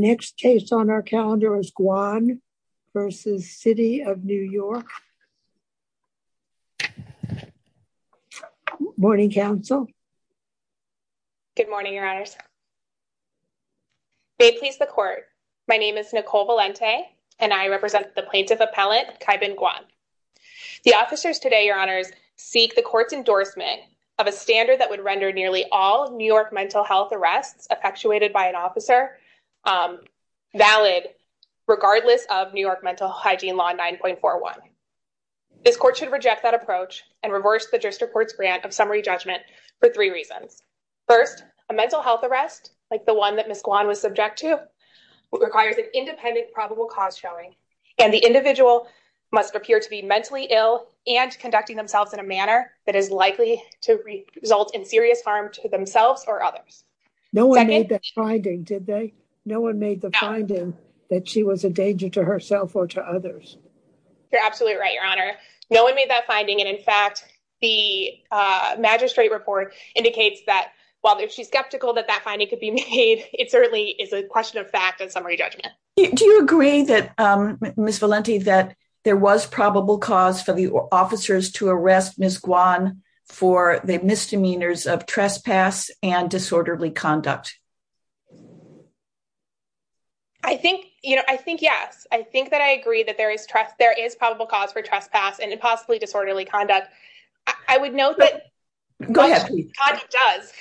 The next case on our calendar is Guan v. City of New York. Morning Council. Good morning, Your Honors. May it please the Court, my name is Nicole Valente and I represent the Plaintiff Appellate Kaibin Guan. The officers today, Your Honors, seek the Court's endorsement of a standard that would be valid regardless of New York Mental Hygiene Law 9.41. This Court should reject that approach and reverse the District Court's grant of summary judgment for three reasons. First, a mental health arrest, like the one that Ms. Guan was subject to, requires an independent probable cause showing, and the individual must appear to be mentally ill and conducting themselves in a manner that is likely to result in serious harm to themselves or others. Second— No one made that finding, did they? No one made the finding that she was a danger to herself or to others. You're absolutely right, Your Honor. No one made that finding, and in fact, the magistrate report indicates that while she's skeptical that that finding could be made, it certainly is a question of fact and summary judgment. Do you agree, Ms. Valente, that there was probable cause for the officers to arrest Ms. Guan for the misdemeanors of trespass and disorderly conduct? I think, you know, I think yes. I think that I agree that there is probable cause for trespass and possibly disorderly conduct. I would note that— Go ahead. Conduct does.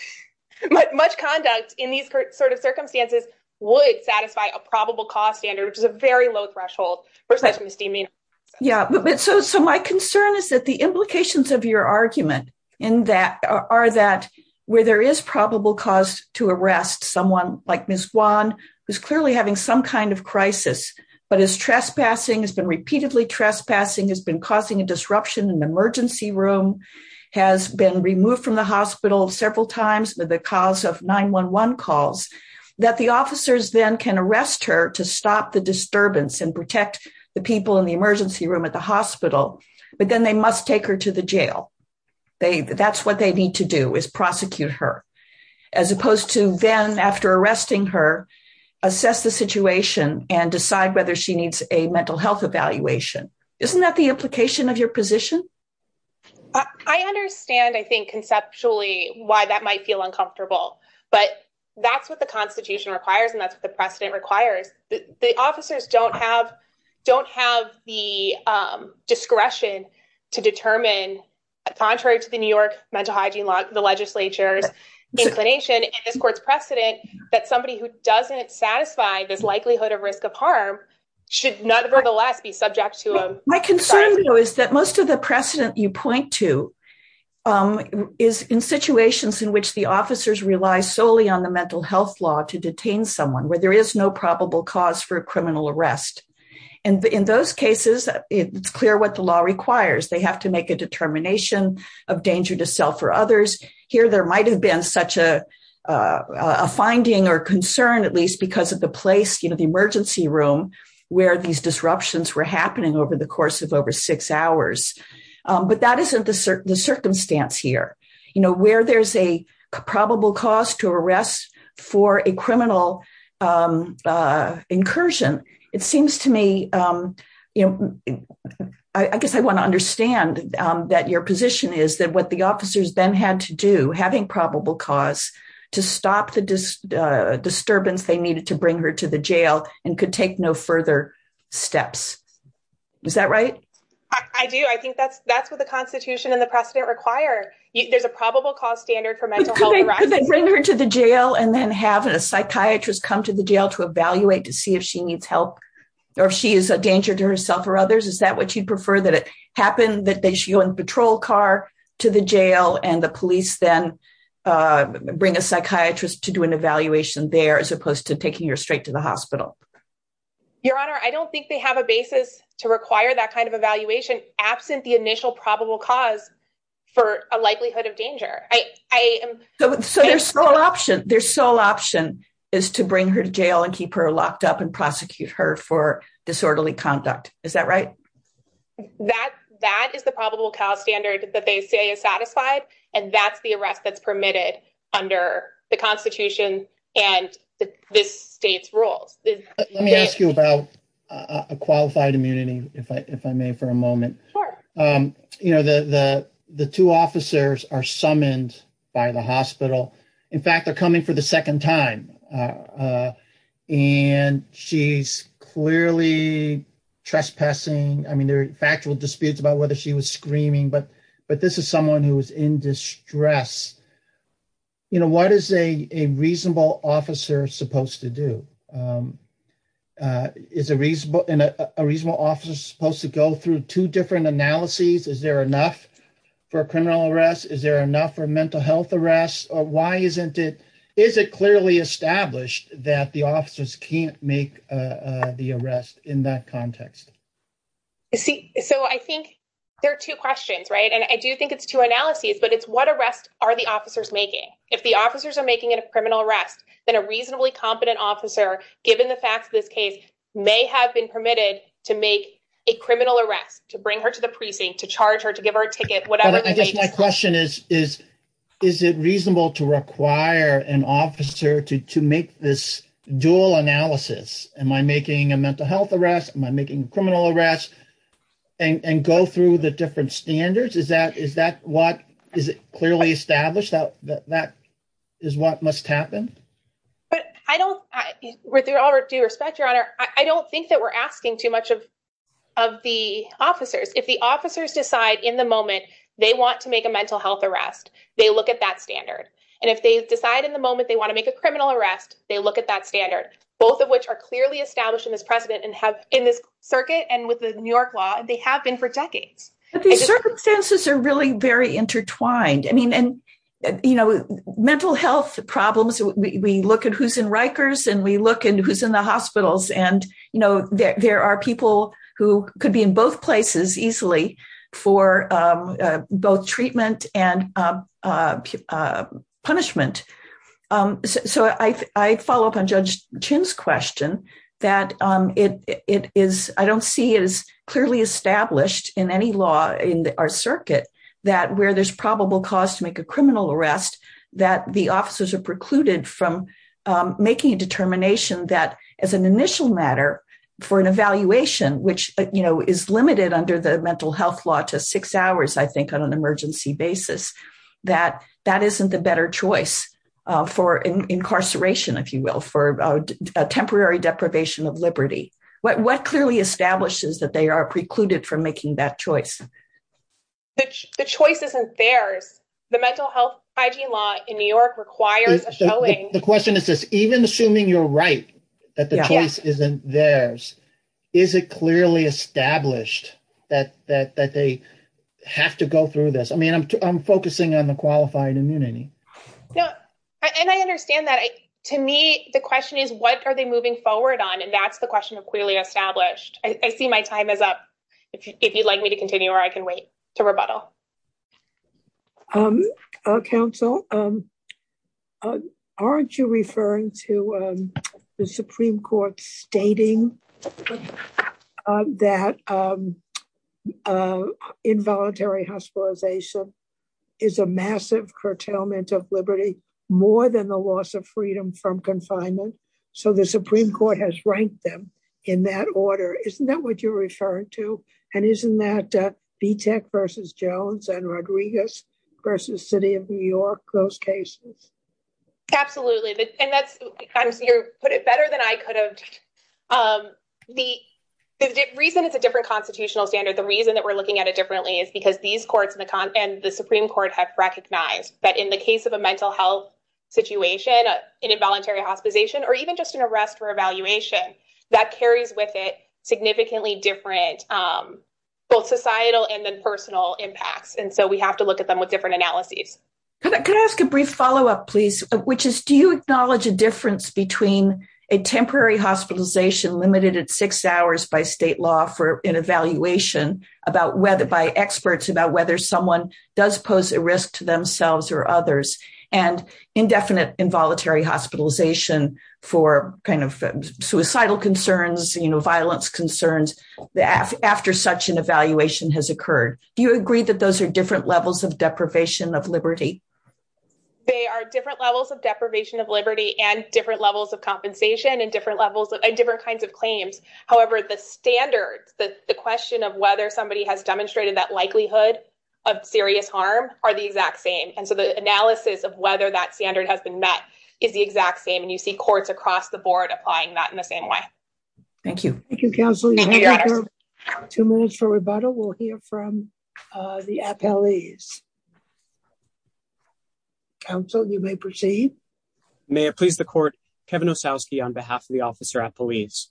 Much conduct in these sort of circumstances would satisfy a probable cause standard, which is a very low threshold for such misdemeanors. Yeah, but so my concern is that the implications of your argument are that where there is probable cause to arrest someone like Ms. Guan, who's clearly having some kind of crisis, but is trespassing, has been repeatedly trespassing, has been causing a disruption in the emergency room, has been removed from the hospital several times because of 911 calls, that the officers then can arrest her to stop the disturbance and protect the people in the emergency room at the hospital, but then they must take her to the jail. That's what they need to do, is prosecute her, as opposed to then, after arresting her, assess the situation and decide whether she needs a mental health evaluation. Isn't that the implication of your position? I understand, I think, conceptually why that might feel uncomfortable, but that's what the Constitution requires and that's what the precedent requires. The officers don't have the discretion to determine, contrary to the New York Mental Hygiene Law, the legislature's inclination and this court's precedent, that somebody who doesn't satisfy this likelihood of risk of harm should, nevertheless, be subject to a- My concern, though, is that most of the precedent you point to is in situations in which the for a criminal arrest. In those cases, it's clear what the law requires. They have to make a determination of danger to self or others. Here there might have been such a finding or concern, at least, because of the place, the emergency room, where these disruptions were happening over the course of over six hours, but that isn't the circumstance here. Where there's a probable cause to arrest for a criminal incursion, it seems to me, I guess I want to understand that your position is that what the officers then had to do, having probable cause, to stop the disturbance they needed to bring her to the jail and could take no further steps. Is that right? I do. I think that's what the Constitution and the precedent require. There's a probable cause standard for mental health arrests. Could they bring her to the jail and then have a psychiatrist come to the jail to evaluate to see if she needs help or if she is a danger to herself or others? Is that what you'd prefer? That it happened that she went in a patrol car to the jail and the police then bring a psychiatrist to do an evaluation there as opposed to taking her straight to the hospital? Your Honor, I don't think they have a basis to require that kind of evaluation absent the initial probable cause for a likelihood of danger. So their sole option is to bring her to jail and keep her locked up and prosecute her for disorderly conduct. Is that right? That is the probable cause standard that they say is satisfied, and that's the arrest that's Let me ask you about a qualified immunity, if I may, for a moment. The two officers are summoned by the hospital. In fact, they're coming for the second time, and she's clearly trespassing. I mean, there are factual disputes about whether she was screaming, but this is someone who was in distress. What is a reasonable officer supposed to do? Is a reasonable officer supposed to go through two different analyses? Is there enough for a criminal arrest? Is there enough for a mental health arrest? Why isn't it? Is it clearly established that the officers can't make the arrest in that context? So I think there are two questions, right? And I do think it's two analyses, but it's what arrest are the officers making? If the officers are making it a criminal arrest, then a reasonably competent officer, given the facts of this case, may have been permitted to make a criminal arrest, to bring her to the precinct, to charge her, to give her a ticket, whatever the case. But I guess my question is, is it reasonable to require an officer to make this dual analysis? Am I making a mental health arrest? Am I making a criminal arrest? And go through the different standards? Is it clearly established that that is what must happen? With all due respect, Your Honor, I don't think that we're asking too much of the officers. If the officers decide in the moment they want to make a mental health arrest, they look at that standard. And if they decide in the moment they want to make a criminal arrest, they look at that standard, both of which are clearly established in this precedent and have in this circuit and with the New York law, they have been for decades. But these circumstances are really very intertwined. I mean, and, you know, mental health problems, we look at who's in Rikers and we look at who's in the hospitals. And, you know, there are people who could be in both places easily for both treatment and punishment. So I follow up on Judge Chin's question that it is I don't see it is clearly established in any law in our circuit that where there's probable cause to make a criminal arrest that the officers are precluded from making a determination that as an initial matter for an evaluation, which, you know, is limited under the mental health law to six hours, I think on an emergency basis, that that isn't the better choice for incarceration, if you will, for a temporary deprivation of liberty. What clearly establishes that they are precluded from making that choice? The choice isn't theirs. The mental health hygiene law in New York requires a showing. The question is this, even assuming you're right, that the choice isn't theirs, is it clearly established that they have to go through this? I mean, I'm focusing on the qualified immunity. No, and I understand that to me, the question is, what are they moving forward on? And that's the question of clearly established. I see my time is up if you'd like me to continue or I can wait to rebuttal. Counsel, aren't you referring to the Supreme Court stating that involuntary hospitalization is a massive curtailment of liberty more than the loss of freedom from confinement? So the Supreme Court has ranked them in that order. Isn't that what you're referring to? And isn't that Vitek versus Jones and Rodriguez versus City of New York, those cases? Absolutely. And that's you put it better than I could have. The reason it's a different constitutional standard, the reason that we're looking at it differently is because these courts and the Supreme Court have recognized that in the case of a mental health situation, an involuntary hospitalization or even just an arrest for evaluation that carries with it significantly different both societal and then personal impacts. And so we have to look at them with different analyses. Can I ask a brief follow up, please, which is, do you acknowledge a difference between a temporary hospitalization limited at six hours by state law for an evaluation about whether by experts about whether someone does pose a risk to themselves or others and indefinite involuntary hospitalization for kind of suicidal concerns, you know, violence concerns that after such an evaluation has occurred, do you agree that those are different levels of deprivation of liberty? They are different levels of deprivation of liberty and different levels of compensation and different levels of different kinds of claims. However, the standards that the question of whether somebody has demonstrated that likelihood of serious harm are the exact same. And so the analysis of whether that standard has been met is the exact same. And you see courts across the board applying that in the same way. Thank you. Thank you, counsel. Two minutes for rebuttal. We'll hear from the appellees. Counsel, you may proceed. May it please the court, Kevin Osowski, on behalf of the officer at police.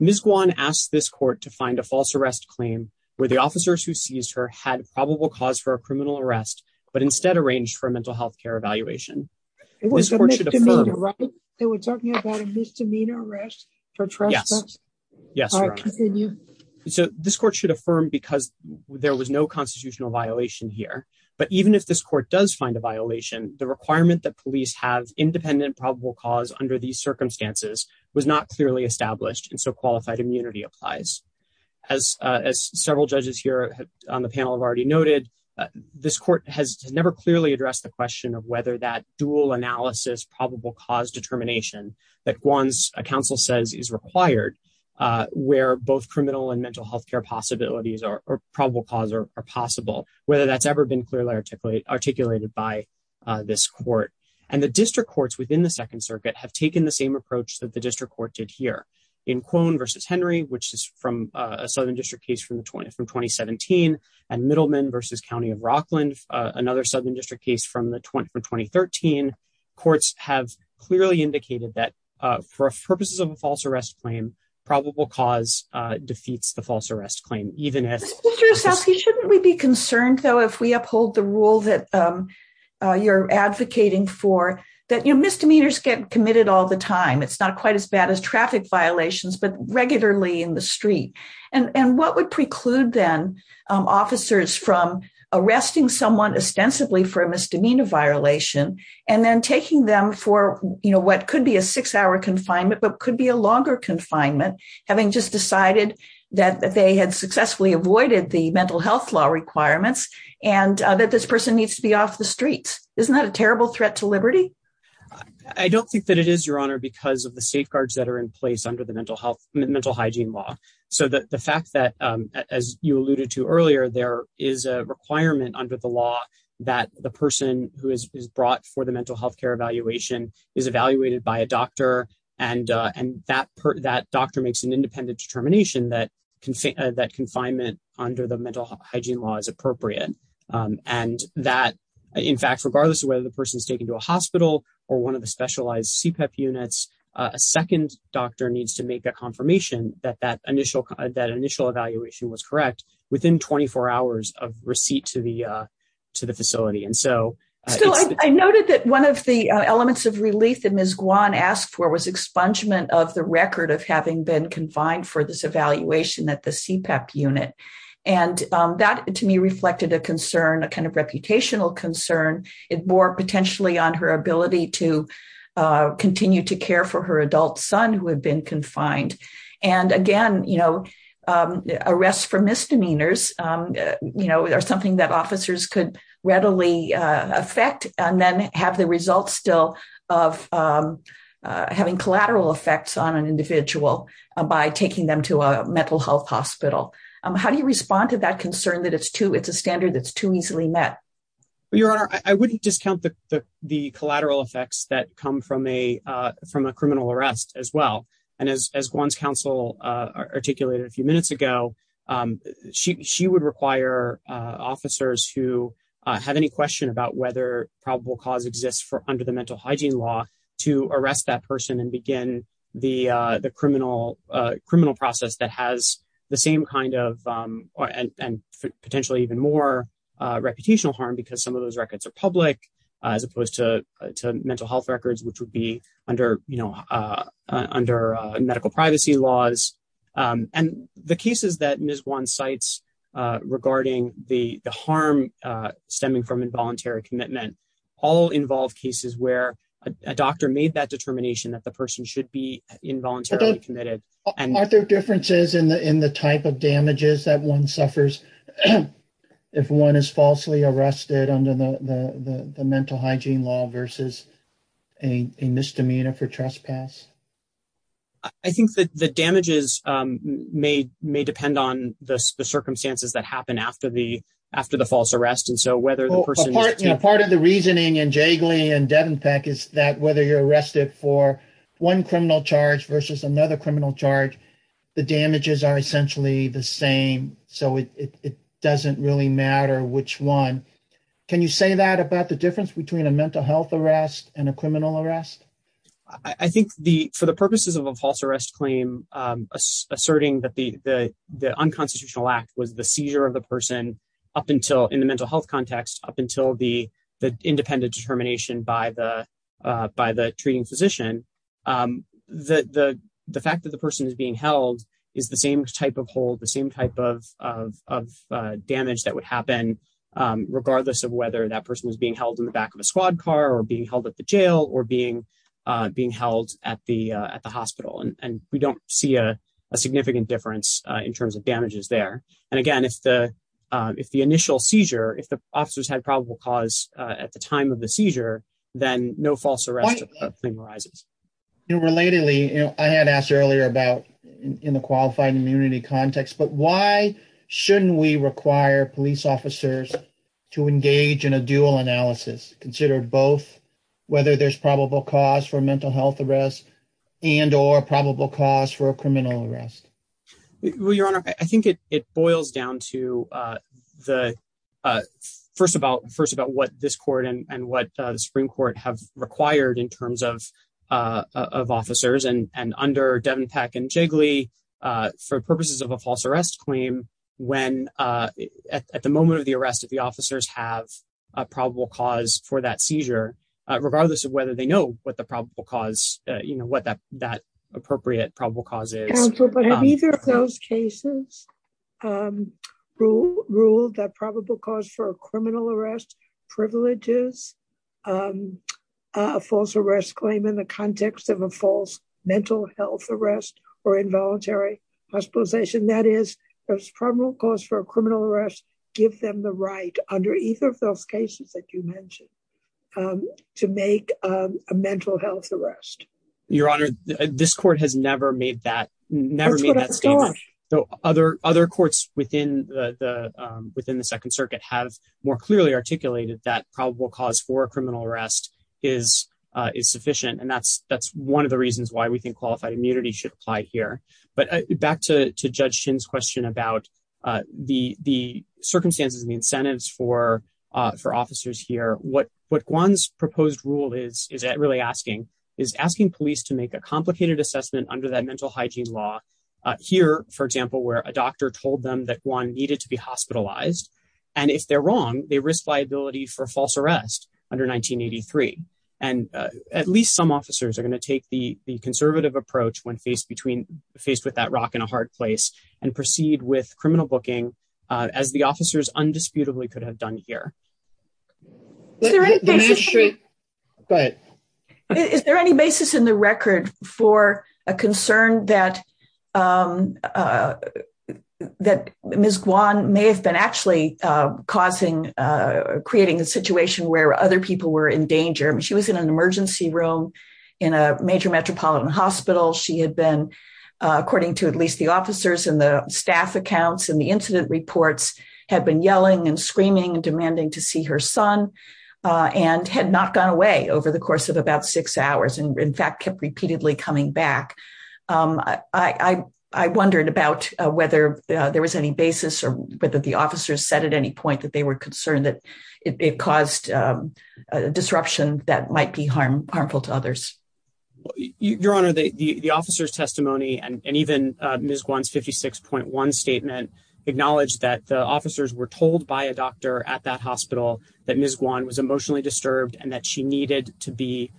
Ms. Guan asked this court to find a false arrest claim where the officers who seized her had probable cause for a criminal arrest, but instead arranged for a mental health care evaluation. It was a misdemeanor, right? They were talking about a misdemeanor arrest for trespass. Yes. So this court should affirm because there was no constitutional violation here. But even if this court does find a violation, the requirement that police have independent probable cause under these circumstances was not clearly established. And so qualified immunity applies. As as several judges here on the panel have already noted, this court has never clearly addressed the question of whether that dual analysis probable cause determination that one's counsel says is required where both criminal and mental health care possibilities are probable cause or possible, whether that's ever been clearly articulated by this court. And the district courts within the Second Circuit have taken the same approach that the district court did here in Kwon versus Henry, which is from a southern district case from the from twenty seventeen and Middleman versus County of Rockland, another southern district case from the from twenty thirteen. Courts have clearly indicated that for purposes of a false arrest claim, probable cause defeats the false arrest claim. Even as Mr. Osowski, shouldn't we be concerned, though, if we uphold the rule that you're advocating for, that your misdemeanors get committed all the time? It's not quite as bad as traffic violations, but regularly in the street. And what would preclude then officers from arresting someone ostensibly for a misdemeanor violation and then taking them for what could be a six hour confinement but could be a longer confinement, having just decided that they had successfully avoided the mental health law requirements and that this person needs to be off the streets? Isn't that a terrible threat to liberty? I don't think that it is, your honor, because of the safeguards that are in place under the mental health, mental hygiene law. So the fact that, as you alluded to earlier, there is a requirement under the law that the person who is brought for the mental health care evaluation is evaluated by a doctor and and that that doctor makes an independent determination that that confinement under the mental hygiene law is appropriate and that, in fact, regardless of whether the person is taken to a hospital or one of the specialized CPEP units, a second doctor needs to make a confirmation that that initial that initial evaluation was correct within 24 hours of receipt to the to the facility. And so I noted that one of the elements of relief that Ms. Guan asked for was expungement of the record of having been confined for this evaluation at the CPEP unit. And that, to me, reflected a concern, a kind of reputational concern. It bore potentially on her ability to continue to care for her adult son who had been confined. And again, you know, arrests for misdemeanors, you know, are something that officers could readily affect and then have the results still of having collateral effects on an individual by taking them to a mental health hospital. How do you respond to that concern that it's too it's a standard that's too easily met? Your Honor, I wouldn't discount the the collateral effects that come from a from a criminal arrest as well. And as Guan's counsel articulated a few minutes ago, she would require officers who have any question about whether probable cause exists for under the mental hygiene law to arrest that person and begin the the criminal criminal process that has the same kind of and potentially even more reputational harm because some of those records are public as opposed to mental health records, which would be under, you know, under medical privacy laws. And the cases that Ms. Guan cites regarding the harm stemming from involuntary commitment all involve cases where a doctor made that determination that the person should be involuntarily committed. Are there differences in the in the type of damages that one suffers if one is falsely arrested under the mental hygiene law versus a misdemeanor for trespass? I think that the damages may may depend on the circumstances that happen after the after the false arrest. And so whether the person part of the reasoning and Jagley and Devenpeck is that whether you're arrested for one criminal charge versus another criminal charge, the damages are essentially the same. So it doesn't really matter which one. Can you say that about the difference between a mental health arrest and a criminal arrest? I think the for the purposes of a false arrest claim asserting that the unconstitutional act was the seizure of the person up until in the mental health context, up until the the independent determination by the by the treating physician, the fact that the person is being held is the same type of hold, the same type of damage that would happen regardless of whether that person was being held in the back of a squad car or being held at the jail or being being held at the at the hospital. And we don't see a significant difference in terms of damages there. And again, if the if the initial seizure, if the officers had probable cause at the time of the seizure, then no false arrest claim arises. You know, relatedly, I had asked earlier about in the qualified immunity context, but why shouldn't we require police officers to engage in a dual analysis considered both whether there's probable cause for mental health arrest and or probable cause for a seizure? And it boils down to the first about first about what this court and what the Supreme Court have required in terms of of officers and under Devin Peck and Jigley for purposes of a false arrest claim when at the moment of the arrest of the officers have a probable cause for that seizure, regardless of whether they know what the probable cause, you know, what that that appropriate probable cause is. But in either of those cases, rule ruled that probable cause for a criminal arrest privileges, a false arrest claim in the context of a false mental health arrest or involuntary hospitalization. That is, there's probable cause for a criminal arrest. Give them the right under either of those cases that you mentioned to make a mental health arrest. Your Honor, this court has never made that never made that statement, though other other courts within the within the Second Circuit have more clearly articulated that probable cause for a criminal arrest is is sufficient. And that's that's one of the reasons why we think qualified immunity should apply here. But back to Judge Shin's question about the the circumstances and the incentives for for police to make a complicated assessment under that mental hygiene law here, for example, where a doctor told them that one needed to be hospitalized. And if they're wrong, they risk liability for false arrest under 1983. And at least some officers are going to take the conservative approach when faced between faced with that rock in a hard place and proceed with criminal booking as the officers undisputably could have done here. But is there any basis in the record for a concern that that Ms. Guan may have been actually causing creating a situation where other people were in danger? She was in an emergency room in a major metropolitan hospital. She had been, according to at least the officers and the staff accounts and the incident reports, had been yelling and screaming and demanding to see her son and had not gone away over the course of about six hours and in fact, kept repeatedly coming back. I wondered about whether there was any basis or whether the officers said at any point that they were concerned that it caused a disruption that might be harmful to others. Your Honor, the officers testimony and even Ms. Guan's fifty six point one statement acknowledged that the officers were told by a doctor at that hospital that Ms. Guan was emotionally disturbed and that she needed to be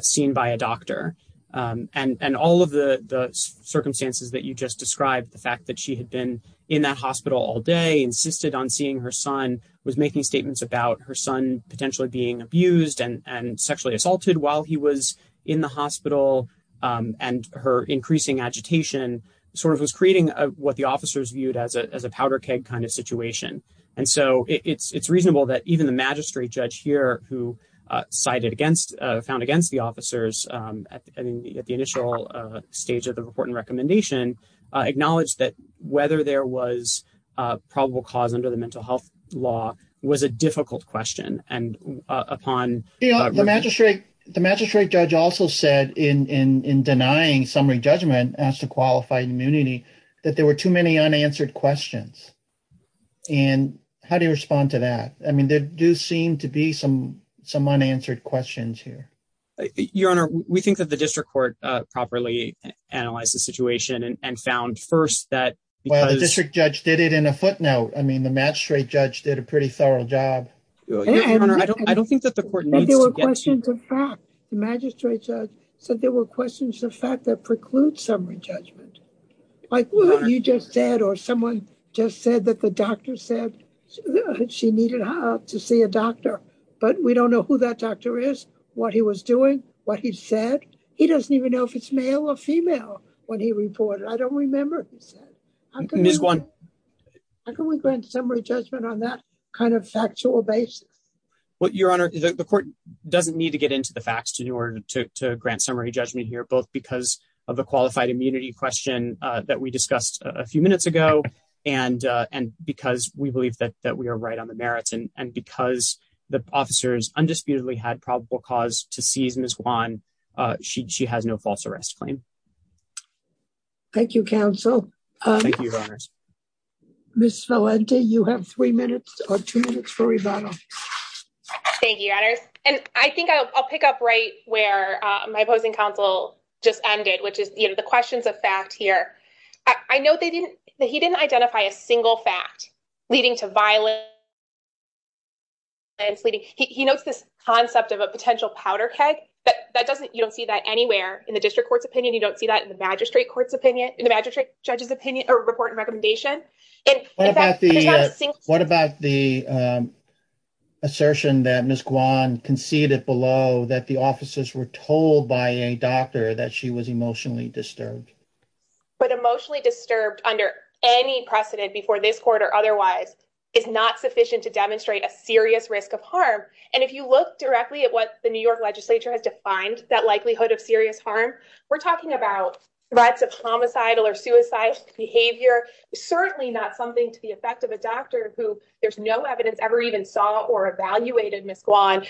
seen by a doctor. And all of the circumstances that you just described, the fact that she had been in that hospital all day, insisted on seeing her son, was making statements about her son potentially being abused and sexually assaulted while he was in the hospital and her increasing agitation sort of was creating what the officers viewed as a as a powder keg kind of situation. And so it's it's reasonable that even the magistrate judge here, who cited against found against the officers at the initial stage of the report and recommendation, acknowledged that whether there was probable cause under the mental health law was a upon the magistrate. The magistrate judge also said in denying summary judgment as to qualified immunity that there were too many unanswered questions. And how do you respond to that? I mean, there do seem to be some some unanswered questions here. Your Honor, we think that the district court properly analyzed the situation and found first that the district judge did it in a footnote. I mean, the magistrate judge did a pretty thorough job. Your Honor, I don't I don't think that the court needs to get to the fact the magistrate judge said there were questions, the fact that precludes summary judgment, like what you just said or someone just said that the doctor said she needed to see a doctor. But we don't know who that doctor is, what he was doing, what he said. He doesn't even know if it's male or female. What he reported. I don't remember. I'm going to miss one. How can we grant summary judgment on that kind of factual basis? Well, Your Honor, the court doesn't need to get into the facts in order to grant summary judgment here, both because of the qualified immunity question that we discussed a few minutes ago and and because we believe that that we are right on the merits. And because the officers undisputedly had probable cause to seize Ms. Juan, she she has no false arrest claim. Thank you, counsel. Ms. Valente, you have three minutes or two minutes for rebuttal. Thank you, Your Honor. And I think I'll pick up right where my opposing counsel just ended, which is the questions of fact here. I know they didn't he didn't identify a single fact leading to violence. And he notes this concept of a potential powder keg, but that doesn't you don't see that anywhere in the district court's opinion. You don't see that in the magistrate court's opinion, in the magistrate judge's opinion or report and recommendation. And what about the what about the assertion that Ms. Juan conceded below that the officers were told by a doctor that she was emotionally disturbed, but emotionally disturbed under any precedent before this court or otherwise is not sufficient to demonstrate a serious risk of harm. And if you look directly at what the New York legislature has defined, that likelihood of serious harm. We're talking about threats of homicidal or suicidal behavior, certainly not something to the effect of a doctor who there's no evidence ever even saw or evaluated Ms. Juan's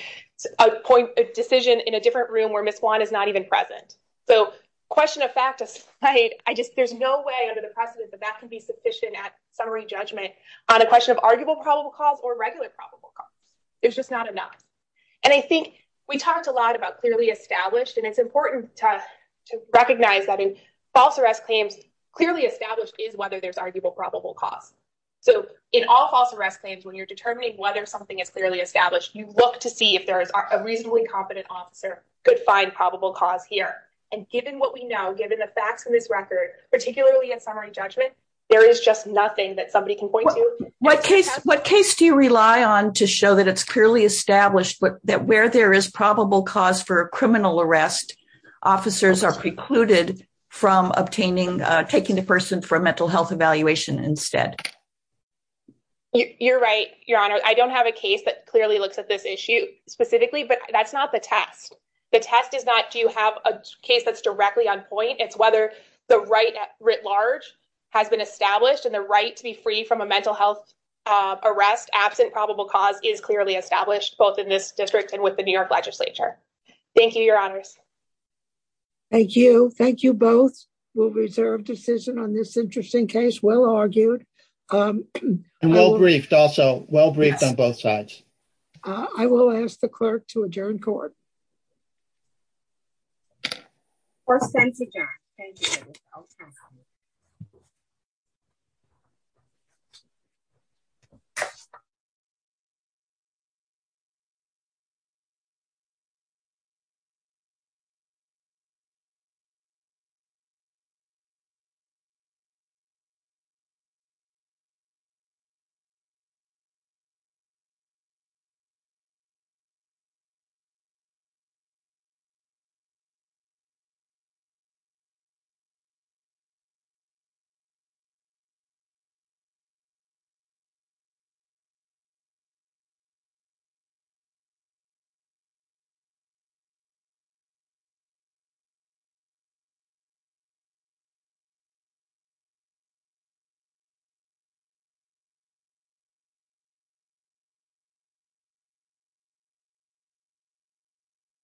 decision in a different room where Ms. Juan is not even present. So question of fact, I just there's no way under the precedent that that can be sufficient at summary judgment on a question of arguable probable cause or regular probable is just not enough. And I think we talked a lot about clearly established and it's important to recognize that in false arrest claims, clearly established is whether there's arguable probable cause. So in all false arrest claims, when you're determining whether something is clearly established, you look to see if there is a reasonably competent officer could find probable cause here. And given what we know, given the facts in this record, particularly in summary judgment, there is just nothing that somebody can point to. What case what case do you rely on to show that it's clearly established that where there is probable cause for a criminal arrest, officers are precluded from obtaining taking the person for a mental health evaluation instead? You're right, Your Honor, I don't have a case that clearly looks at this issue specifically, but that's not the test. The test is not do you have a case that's directly on point? It's whether the right writ large has been established and the right to be free from a mental health arrest absent probable cause is clearly established both in this district and with the New York legislature. Thank you, Your Honors. Thank you, thank you, both will reserve decision on this interesting case, well argued and well briefed, also well briefed on both sides. I will ask the clerk to adjourn court. Our sent to judge, thank you. Our sent to judge, thank you. Our sent to judge, thank you. Our sent to judge, thank you.